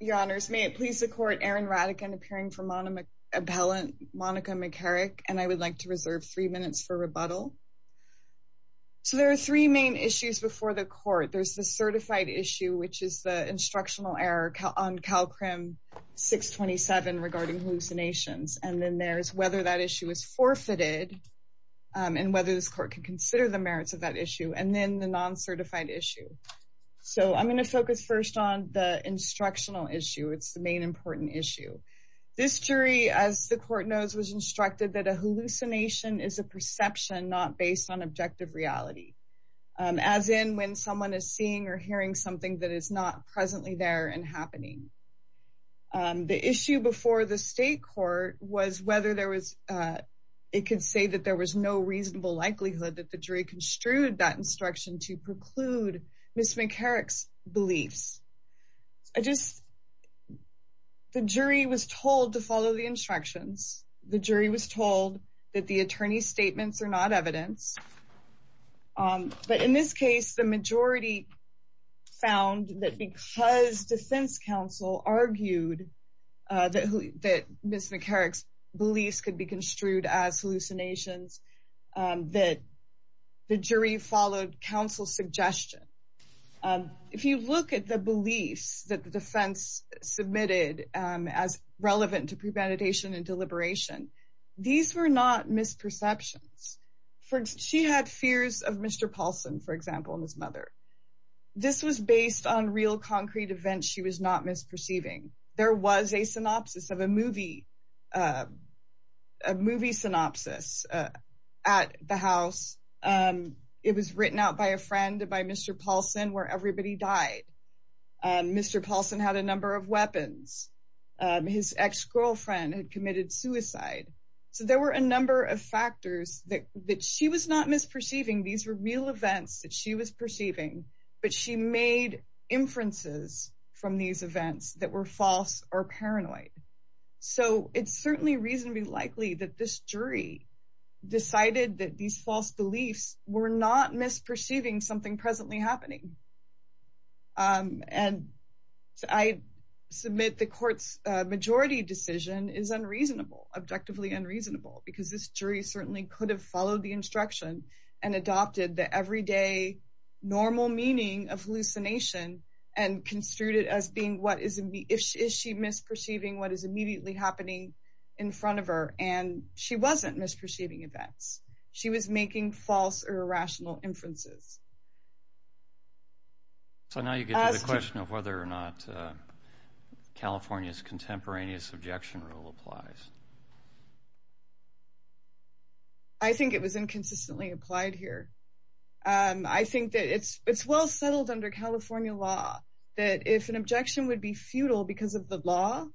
Your Honors, may it please the Court, Erin Radican appearing for Monica McCarrick, and I would like to reserve three minutes for rebuttal. So there are three main issues before the Court. There's the certified issue, which is the instructional error on CalCrim 627 regarding hallucinations, and then there's whether that issue is forfeited and whether this Court can consider the merits of that issue, and then the non-certified issue. So I'm going to focus first on the instructional issue. It's the main important issue. This jury, as the Court knows, was instructed that a hallucination is a perception not based on objective reality, as in when someone is seeing or hearing something that is not presently there and happening. The issue before the State Court was whether it could say that there was no reasonable likelihood that the jury construed that instruction to preclude Ms. McCarrick's beliefs. The jury was told to follow the instructions. The jury was told that the attorney's statements are not evidence. But in this case, the majority found that because the defense counsel argued that Ms. McCarrick's beliefs could be construed as hallucinations, that the jury followed counsel's suggestion. If you look at the beliefs that the defense submitted as relevant to premeditation and deliberation, these were not misperceptions. For instance, she had fears of Mr. Paulson, for example, and his mother. This was based on real concrete events she was not misperceiving. There was a movie synopsis at the house. It was written out by a friend, by Mr. Paulson, where everybody died. Mr. Paulson had a number of weapons. His ex-girlfriend had committed suicide. There were a number of factors that she was not misperceiving. These were real events that she was perceiving, but she made inferences from these events that were false or paranoid. It's certainly reasonably likely that this jury decided that these false beliefs were not misperceiving something presently happening. I submit the Court's majority decision is unreasonable, because this jury certainly could have followed the instruction and adopted the everyday normal meaning of hallucination and construed it as being, is she misperceiving what is immediately happening in front of her? She wasn't misperceiving events. She was making false or irrational inferences. Now you get to the question of whether or not California's contemporaneous objection rule applies. I think it was inconsistently applied here. I think that it's well settled under California law that if an objection would be futile because of the law,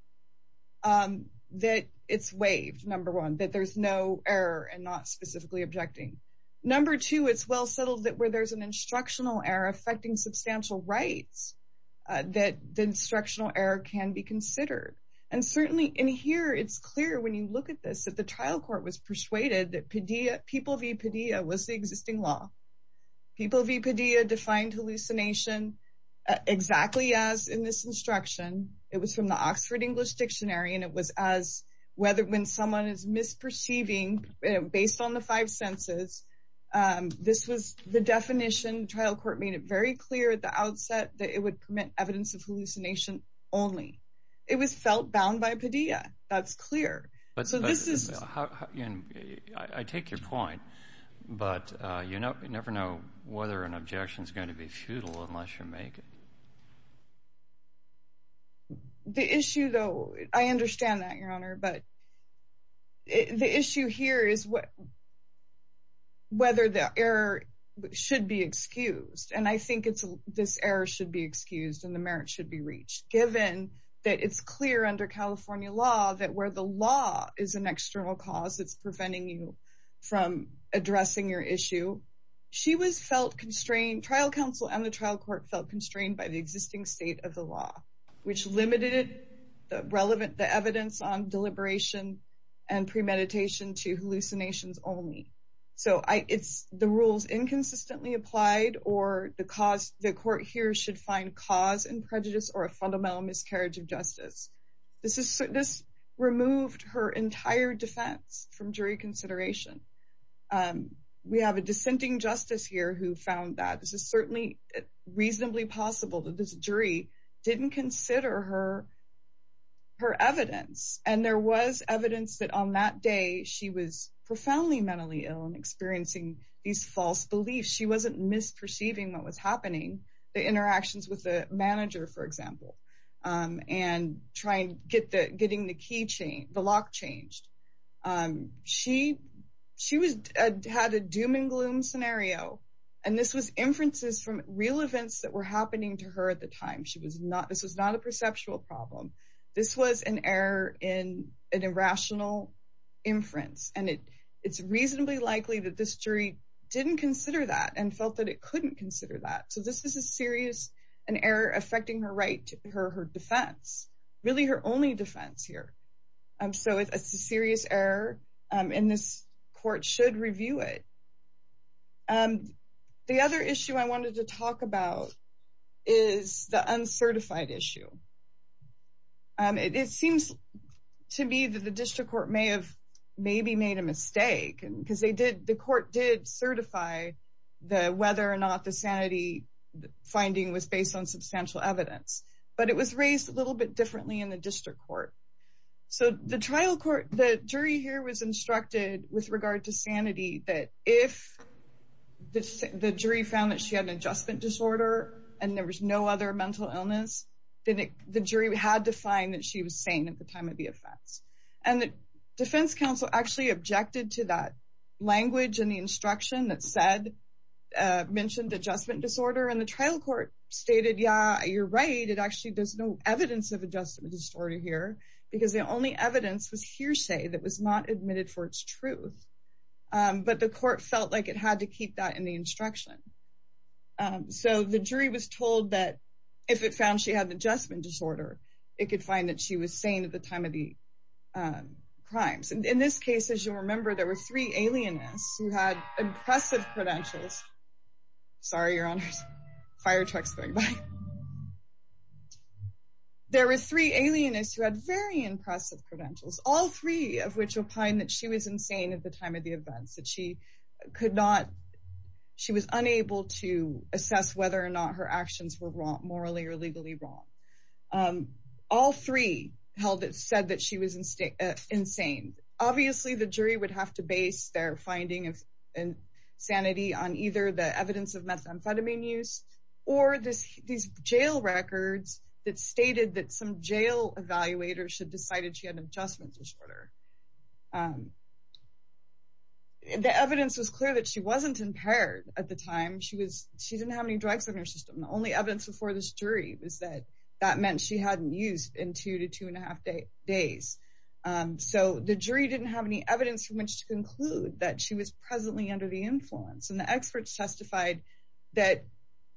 that it's waived, number one, that there's no error and not specifically objecting. Number two, it's well settled that where there's an instructional error affecting substantial rights, that the instructional error can be considered. And certainly in here, it's clear when you look at this, that the trial court was persuaded that PDEA, People v. PDEA was the existing law. People v. PDEA defined hallucination exactly as in this instruction. It was from the Oxford English Dictionary, and it was as whether when someone is misperceiving based on the five senses, this was the definition. Trial court made it very clear at the outset that it would permit evidence of hallucination only. It was felt bound by PDEA. That's clear. I take your point, but you never know whether an objection is going to be futile unless you make it. The issue, though, I understand that, Your Honor, but the issue here is whether the error should be excused. And I think this error should be excused and the merit should be reached, given that it's clear under California law that where the law is an external cause, it's preventing you from addressing your issue. Trial counsel and the trial court felt constrained by the existing state of the law, which limited the evidence on deliberation and premeditation to hallucinations only. So it's the rules inconsistently applied or the court here should find cause and prejudice or a fundamental miscarriage of justice. This removed her entire defense from jury consideration. We have a dissenting justice here who found that. This is certainly reasonably possible that this jury didn't consider her evidence. And there was evidence that on that day she was profoundly mentally ill and experiencing these false beliefs. She wasn't misperceiving what was happening, the interactions with the manager, for example, and trying to get the lock changed. She had a doom and gloom scenario. And this was inferences from real events that were happening to her at the time. This was not a rational inference. And it's reasonably likely that this jury didn't consider that and felt that it couldn't consider that. So this is a serious error affecting her defense, really her only defense here. So it's a serious error and this court should review it. The other issue I wanted to talk about is the uncertified issue. It seems to me that the district court may have maybe made a mistake because the court did certify whether or not the sanity finding was based on substantial evidence. But it was raised a little bit differently in the district court. So the jury here was instructed with regard to sanity that if the jury found that she had an adjustment disorder and there was no other mental illness, then the jury had to find that she was sane at the time of the offense. And the defense council actually objected to that language and the instruction that mentioned adjustment disorder. And the trial court stated, yeah, you're right. There's no evidence of adjustment disorder here because the only evidence was hearsay that was not admitted for its truth. But the court felt like it had to keep that in the instruction. So the jury was told that if it found she had the adjustment disorder, it could find that she was sane at the time of the crimes. And in this case, as you remember, there were three alienists who had impressive credentials. Sorry, your honors, fire trucks going by. There were three alienists who had very impressive credentials, all three of which that she was insane at the time of the events that she could not, she was unable to assess whether or not her actions were wrong morally or legally wrong. All three held it said that she was insane. Obviously, the jury would have to base their finding of sanity on either the evidence of methamphetamine use, or this these jail records that stated that some jail evaluators should cited she had an adjustment disorder. The evidence was clear that she wasn't impaired at the time she was she didn't have any drugs in her system. The only evidence before this jury was that that meant she hadn't used in two to two and a half days. So the jury didn't have any evidence from which to conclude that she was presently under the influence and the experts testified that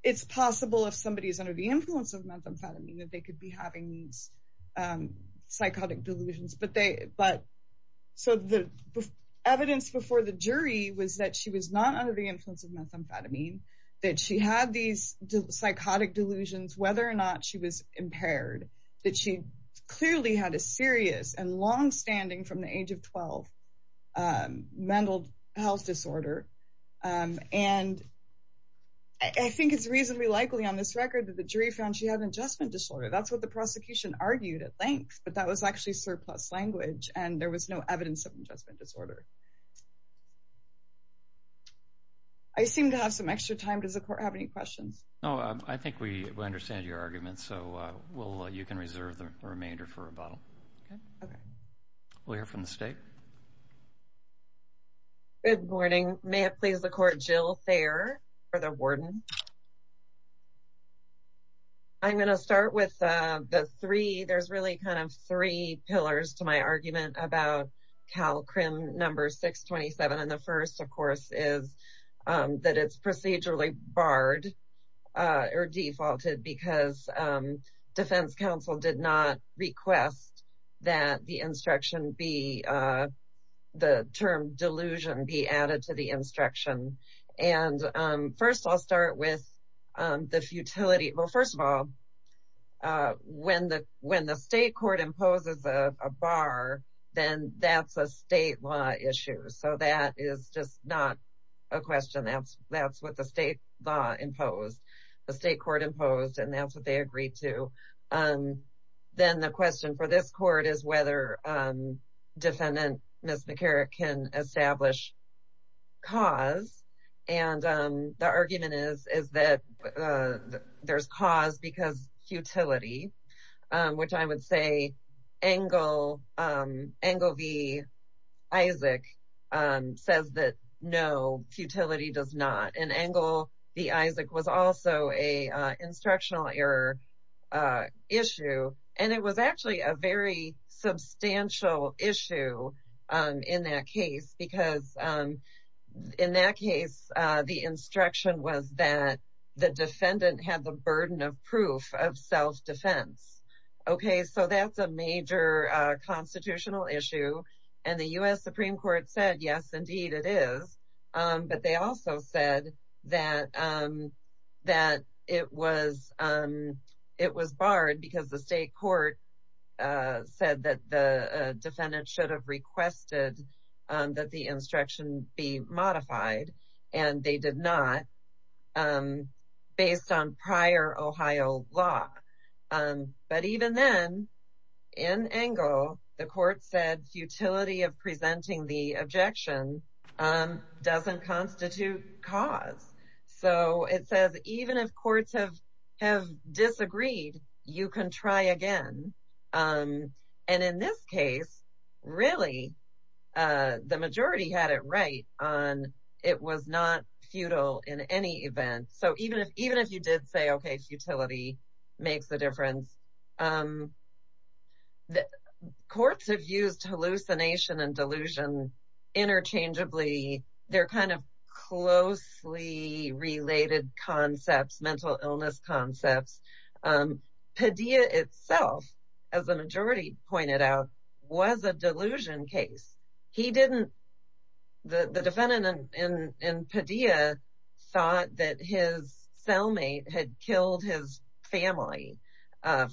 it's possible if somebody is under the influence of methamphetamine that they could having these psychotic delusions, but they but so the evidence before the jury was that she was not under the influence of methamphetamine, that she had these psychotic delusions, whether or not she was impaired, that she clearly had a serious and long standing from the age of 12. mental health disorder. And I think it's reasonably likely on this record that the jury found she had an adjustment disorder. That's what the prosecution argued at length, but that was actually surplus language and there was no evidence of adjustment disorder. I seem to have some extra time. Does the court have any questions? No, I think we understand your argument. So we'll you can reserve the remainder for rebuttal. We'll hear from the state. Good morning. May it please the court Jill Thayer for the warden. I'm going to start with the three. There's really kind of three pillars to my argument about Cal crim number 627. And the first of course, is that it's procedurally barred or defaulted because defense counsel did not request that the instruction be the term delusion be added to the the futility. Well, first of all, when the state court imposes a bar, then that's a state law issue. So that is just not a question. That's what the state law imposed, the state court imposed, and that's what they agreed to. Then the question for this court is whether defendant Ms. McCarrick can establish cause. And the argument is that there's cause because futility, which I would say Engle v. Isaac says that no, futility does not. And Engle v. Isaac was also a instructional error issue. And it was actually a very substantial issue in that case, because in that case, the instruction was that the defendant had the burden of proof of self-defense. Okay, so that's a major constitutional issue. And the U.S. Supreme Court said, yes, indeed it is. But they also said that it was barred because the state court said that the defendant should have requested that the instruction be modified. And they did not, based on prior Ohio law. But even then, in Engle, the court said futility of presenting the objection doesn't constitute cause. So it says even if courts have disagreed, you can try again. And in this case, really, the majority had it right on it was not futile in any event. So even if you did say, okay, futility makes a difference. Courts have used hallucination and delusion interchangeably. They're kind of closely related concepts, mental illness concepts. Padilla itself, as the majority pointed out, was a delusion case. The defendant in Padilla thought that his cellmate had killed his family,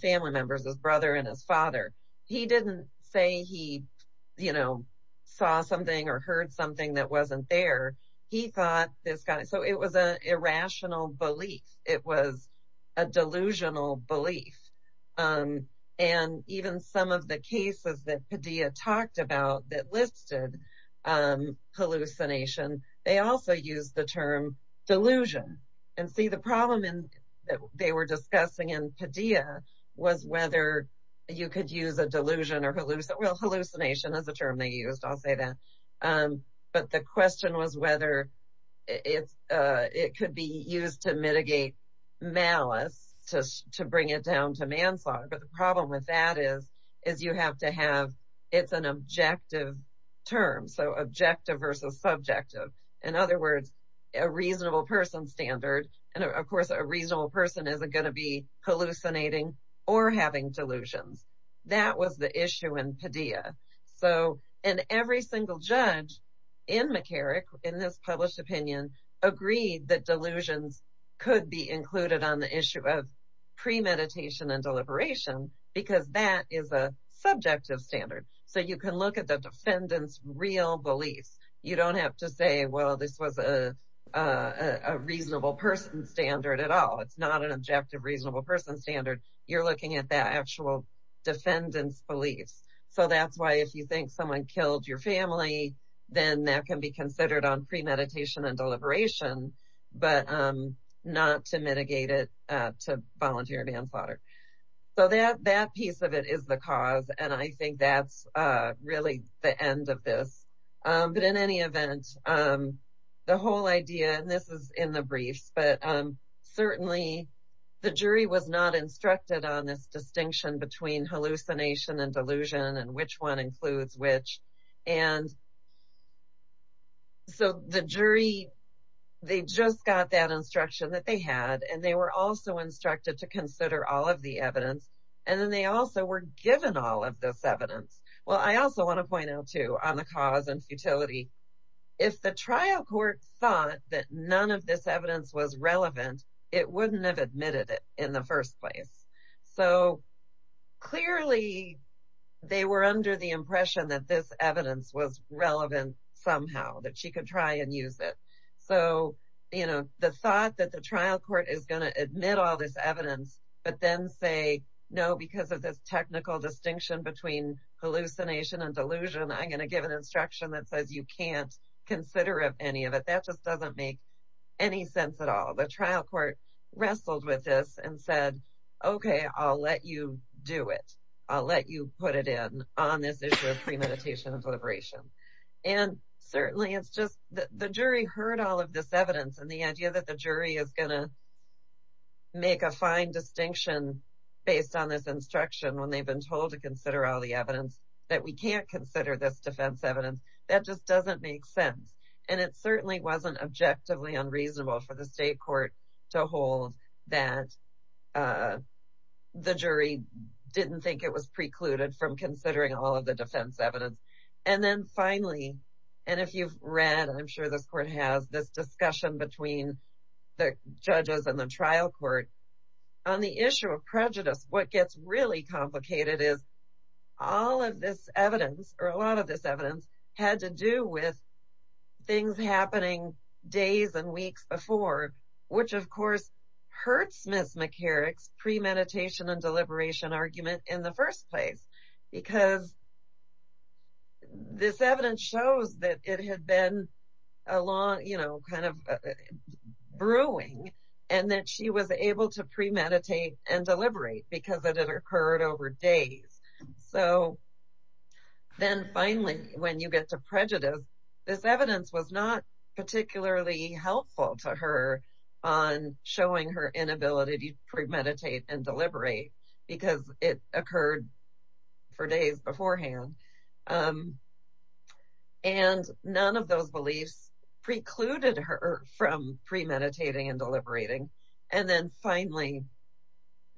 family members, his brother and his father. He didn't say he, you know, saw something or heard something that wasn't there. He thought this guy, so it was an irrational belief. It was a delusional belief. And even some of the cases that Padilla talked about that listed hallucination, they also used the term delusion. And see, the problem that they were discussing in Padilla was whether you could use a delusion or hallucination. Well, hallucination is a term they used, I'll say that. But the question was whether it could be used to mitigate malice, to bring it down to manslaughter. But the problem with that is, is you have to have, it's an objective term, so objective versus subjective. In other words, a reasonable person standard. And of course, a reasonable person isn't going to be hallucinating or having delusions. That was the issue in Padilla. So, and every single judge in McCarrick, in this published opinion, agreed that delusions could be included on the issue of premeditation and deliberation, because that is a subjective standard. So, you can look at the defendant's real beliefs. You don't have to say, well, this was a reasonable person standard at all. It's not an objective reasonable person standard. You're looking at that actual defendant's beliefs. So, that's why if you think someone killed your family, then that can be considered on premeditation and deliberation, but not to mitigate it to volunteer manslaughter. So, that piece of it is the cause. And I think that's really the end of this. But in any event, the whole idea, and this is in the briefs, but certainly the jury was not instructed on this distinction between they just got that instruction that they had, and they were also instructed to consider all of the evidence, and then they also were given all of this evidence. Well, I also want to point out too, on the cause and futility, if the trial court thought that none of this evidence was relevant, it wouldn't have admitted it in the first place. So, clearly, they were under the So, you know, the thought that the trial court is going to admit all this evidence, but then say, no, because of this technical distinction between hallucination and delusion, I'm going to give an instruction that says you can't consider any of it, that just doesn't make any sense at all. The trial court wrestled with this and said, okay, I'll let you do it. I'll let you put it in on this issue of premeditation and deliberation. And certainly, it's just the jury heard all of this evidence, and the idea that the jury is going to make a fine distinction based on this instruction when they've been told to consider all the evidence, that we can't consider this defense evidence, that just doesn't make sense. And it certainly wasn't objectively unreasonable for the state court to hold that the jury didn't think it was precluded from considering all of the defense evidence. And then finally, and if you've read, I'm sure this court has, this discussion between the judges and the trial court, on the issue of prejudice, what gets really complicated is all of this evidence, or a lot of this evidence, had to do with things happening days and weeks before, which, of course, hurts Ms. McCarrick's premeditation and deliberation argument in the first place. Because this evidence shows that it had been a long, you know, kind of brewing, and that she was able to premeditate and deliberate, because it had occurred over days. So, then finally, when you get to prejudice, this evidence was not particularly helpful to her on showing her inability to premeditate and deliberate, because it occurred for days beforehand. And none of those beliefs precluded her from premeditating and deliberating. And then finally,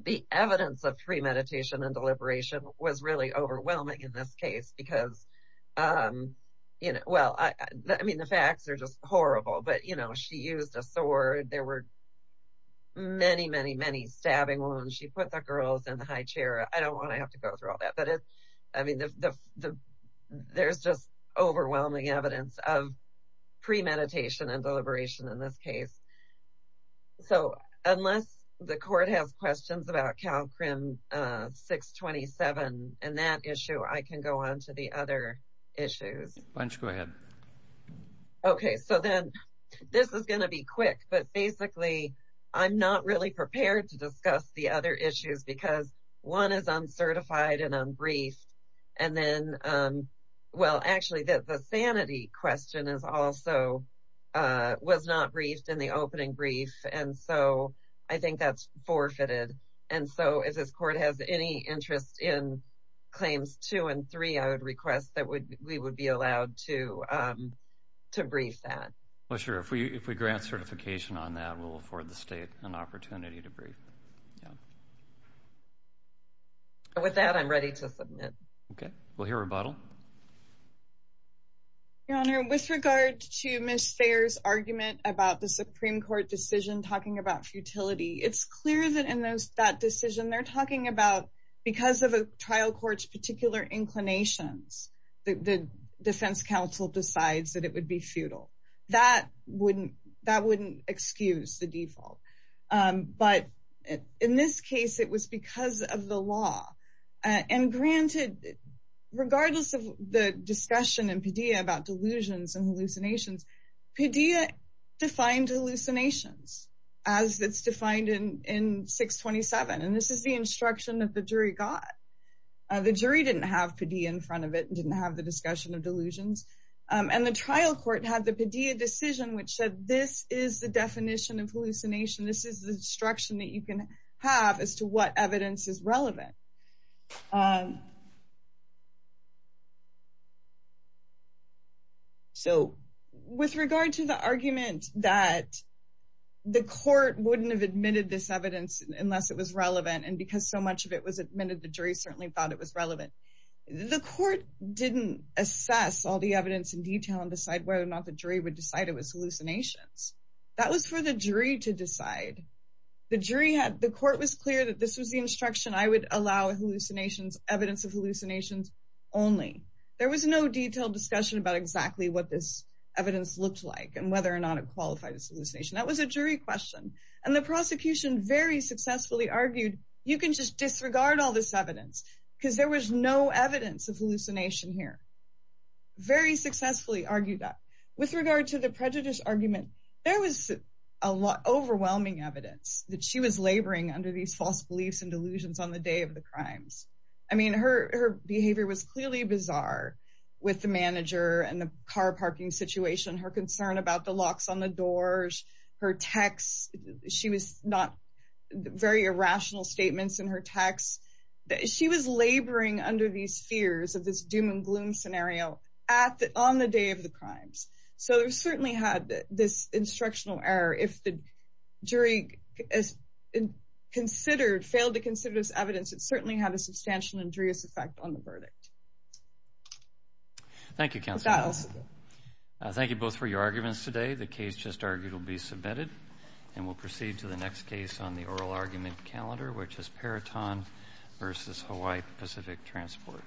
the evidence of premeditation and deliberation was really overwhelming in this case, because, you know, well, I mean, the facts are horrible, but, you know, she used a sword, there were many, many, many stabbing wounds, she put the girls in the high chair, I don't want to have to go through all that, but it's, I mean, there's just overwhelming evidence of premeditation and deliberation in this case. So, unless the court has questions about CalCrim 627, and that issue, I can go on to the other issues. Okay, so then, this is going to be quick, but basically, I'm not really prepared to discuss the other issues, because one is uncertified and unbriefed. And then, well, actually, the sanity question is also, was not briefed in the opening brief. And so, I think that's forfeited. And so, if this court has any interest in claims two and three, I would request that we would be allowed to brief that. Well, sure. If we grant certification on that, we'll afford the state an opportunity to brief. With that, I'm ready to submit. Okay, we'll hear rebuttal. Your Honor, with regard to Ms. Thayer's argument about the Supreme Court decision talking about futility, it's clear that in that decision, they're talking about, because of a trial court's particular inclinations, the defense counsel decides that it would be futile. That wouldn't excuse the default. But in this case, it was because of the law. And granted, regardless of the discussion in Padilla about delusions and hallucinations, Padilla defined hallucinations as it's defined in 627. And this is the instruction that the jury got. The jury didn't have Padilla in front of it and didn't have the discussion of delusions. And the trial court had the Padilla decision which said, this is the definition of hallucination. This is the instruction that you can have as to what evidence is relevant. So, with regard to the argument that the court wouldn't have admitted this evidence unless it was relevant, and because so much of it was admitted, the jury certainly thought it was relevant. The court didn't assess all the evidence in detail and decide whether or not the jury would decide it was hallucinations. That was for the jury to decide. The court was clear that this was the instruction, I would allow evidence of hallucinations only. There was no detailed discussion about exactly what this evidence looked like and whether or not it qualified as you can just disregard all this evidence because there was no evidence of hallucination here. Very successfully argued that. With regard to the prejudice argument, there was a lot of overwhelming evidence that she was laboring under these false beliefs and delusions on the day of the crimes. I mean, her behavior was clearly bizarre with the manager and the car parking situation, her concern about the locks on the doors, her text, she was not very irrational statements in her text. She was laboring under these fears of this doom and gloom scenario on the day of the crimes. So, it certainly had this instructional error if the jury failed to consider this evidence, it certainly had a substantial injurious effect on the verdict. Thank you, counsel. Thank you both for your arguments today. The case just argued will be submitted and we'll proceed to the next case on the oral argument calendar, which is Peroton versus Hawaii Pacific Transport.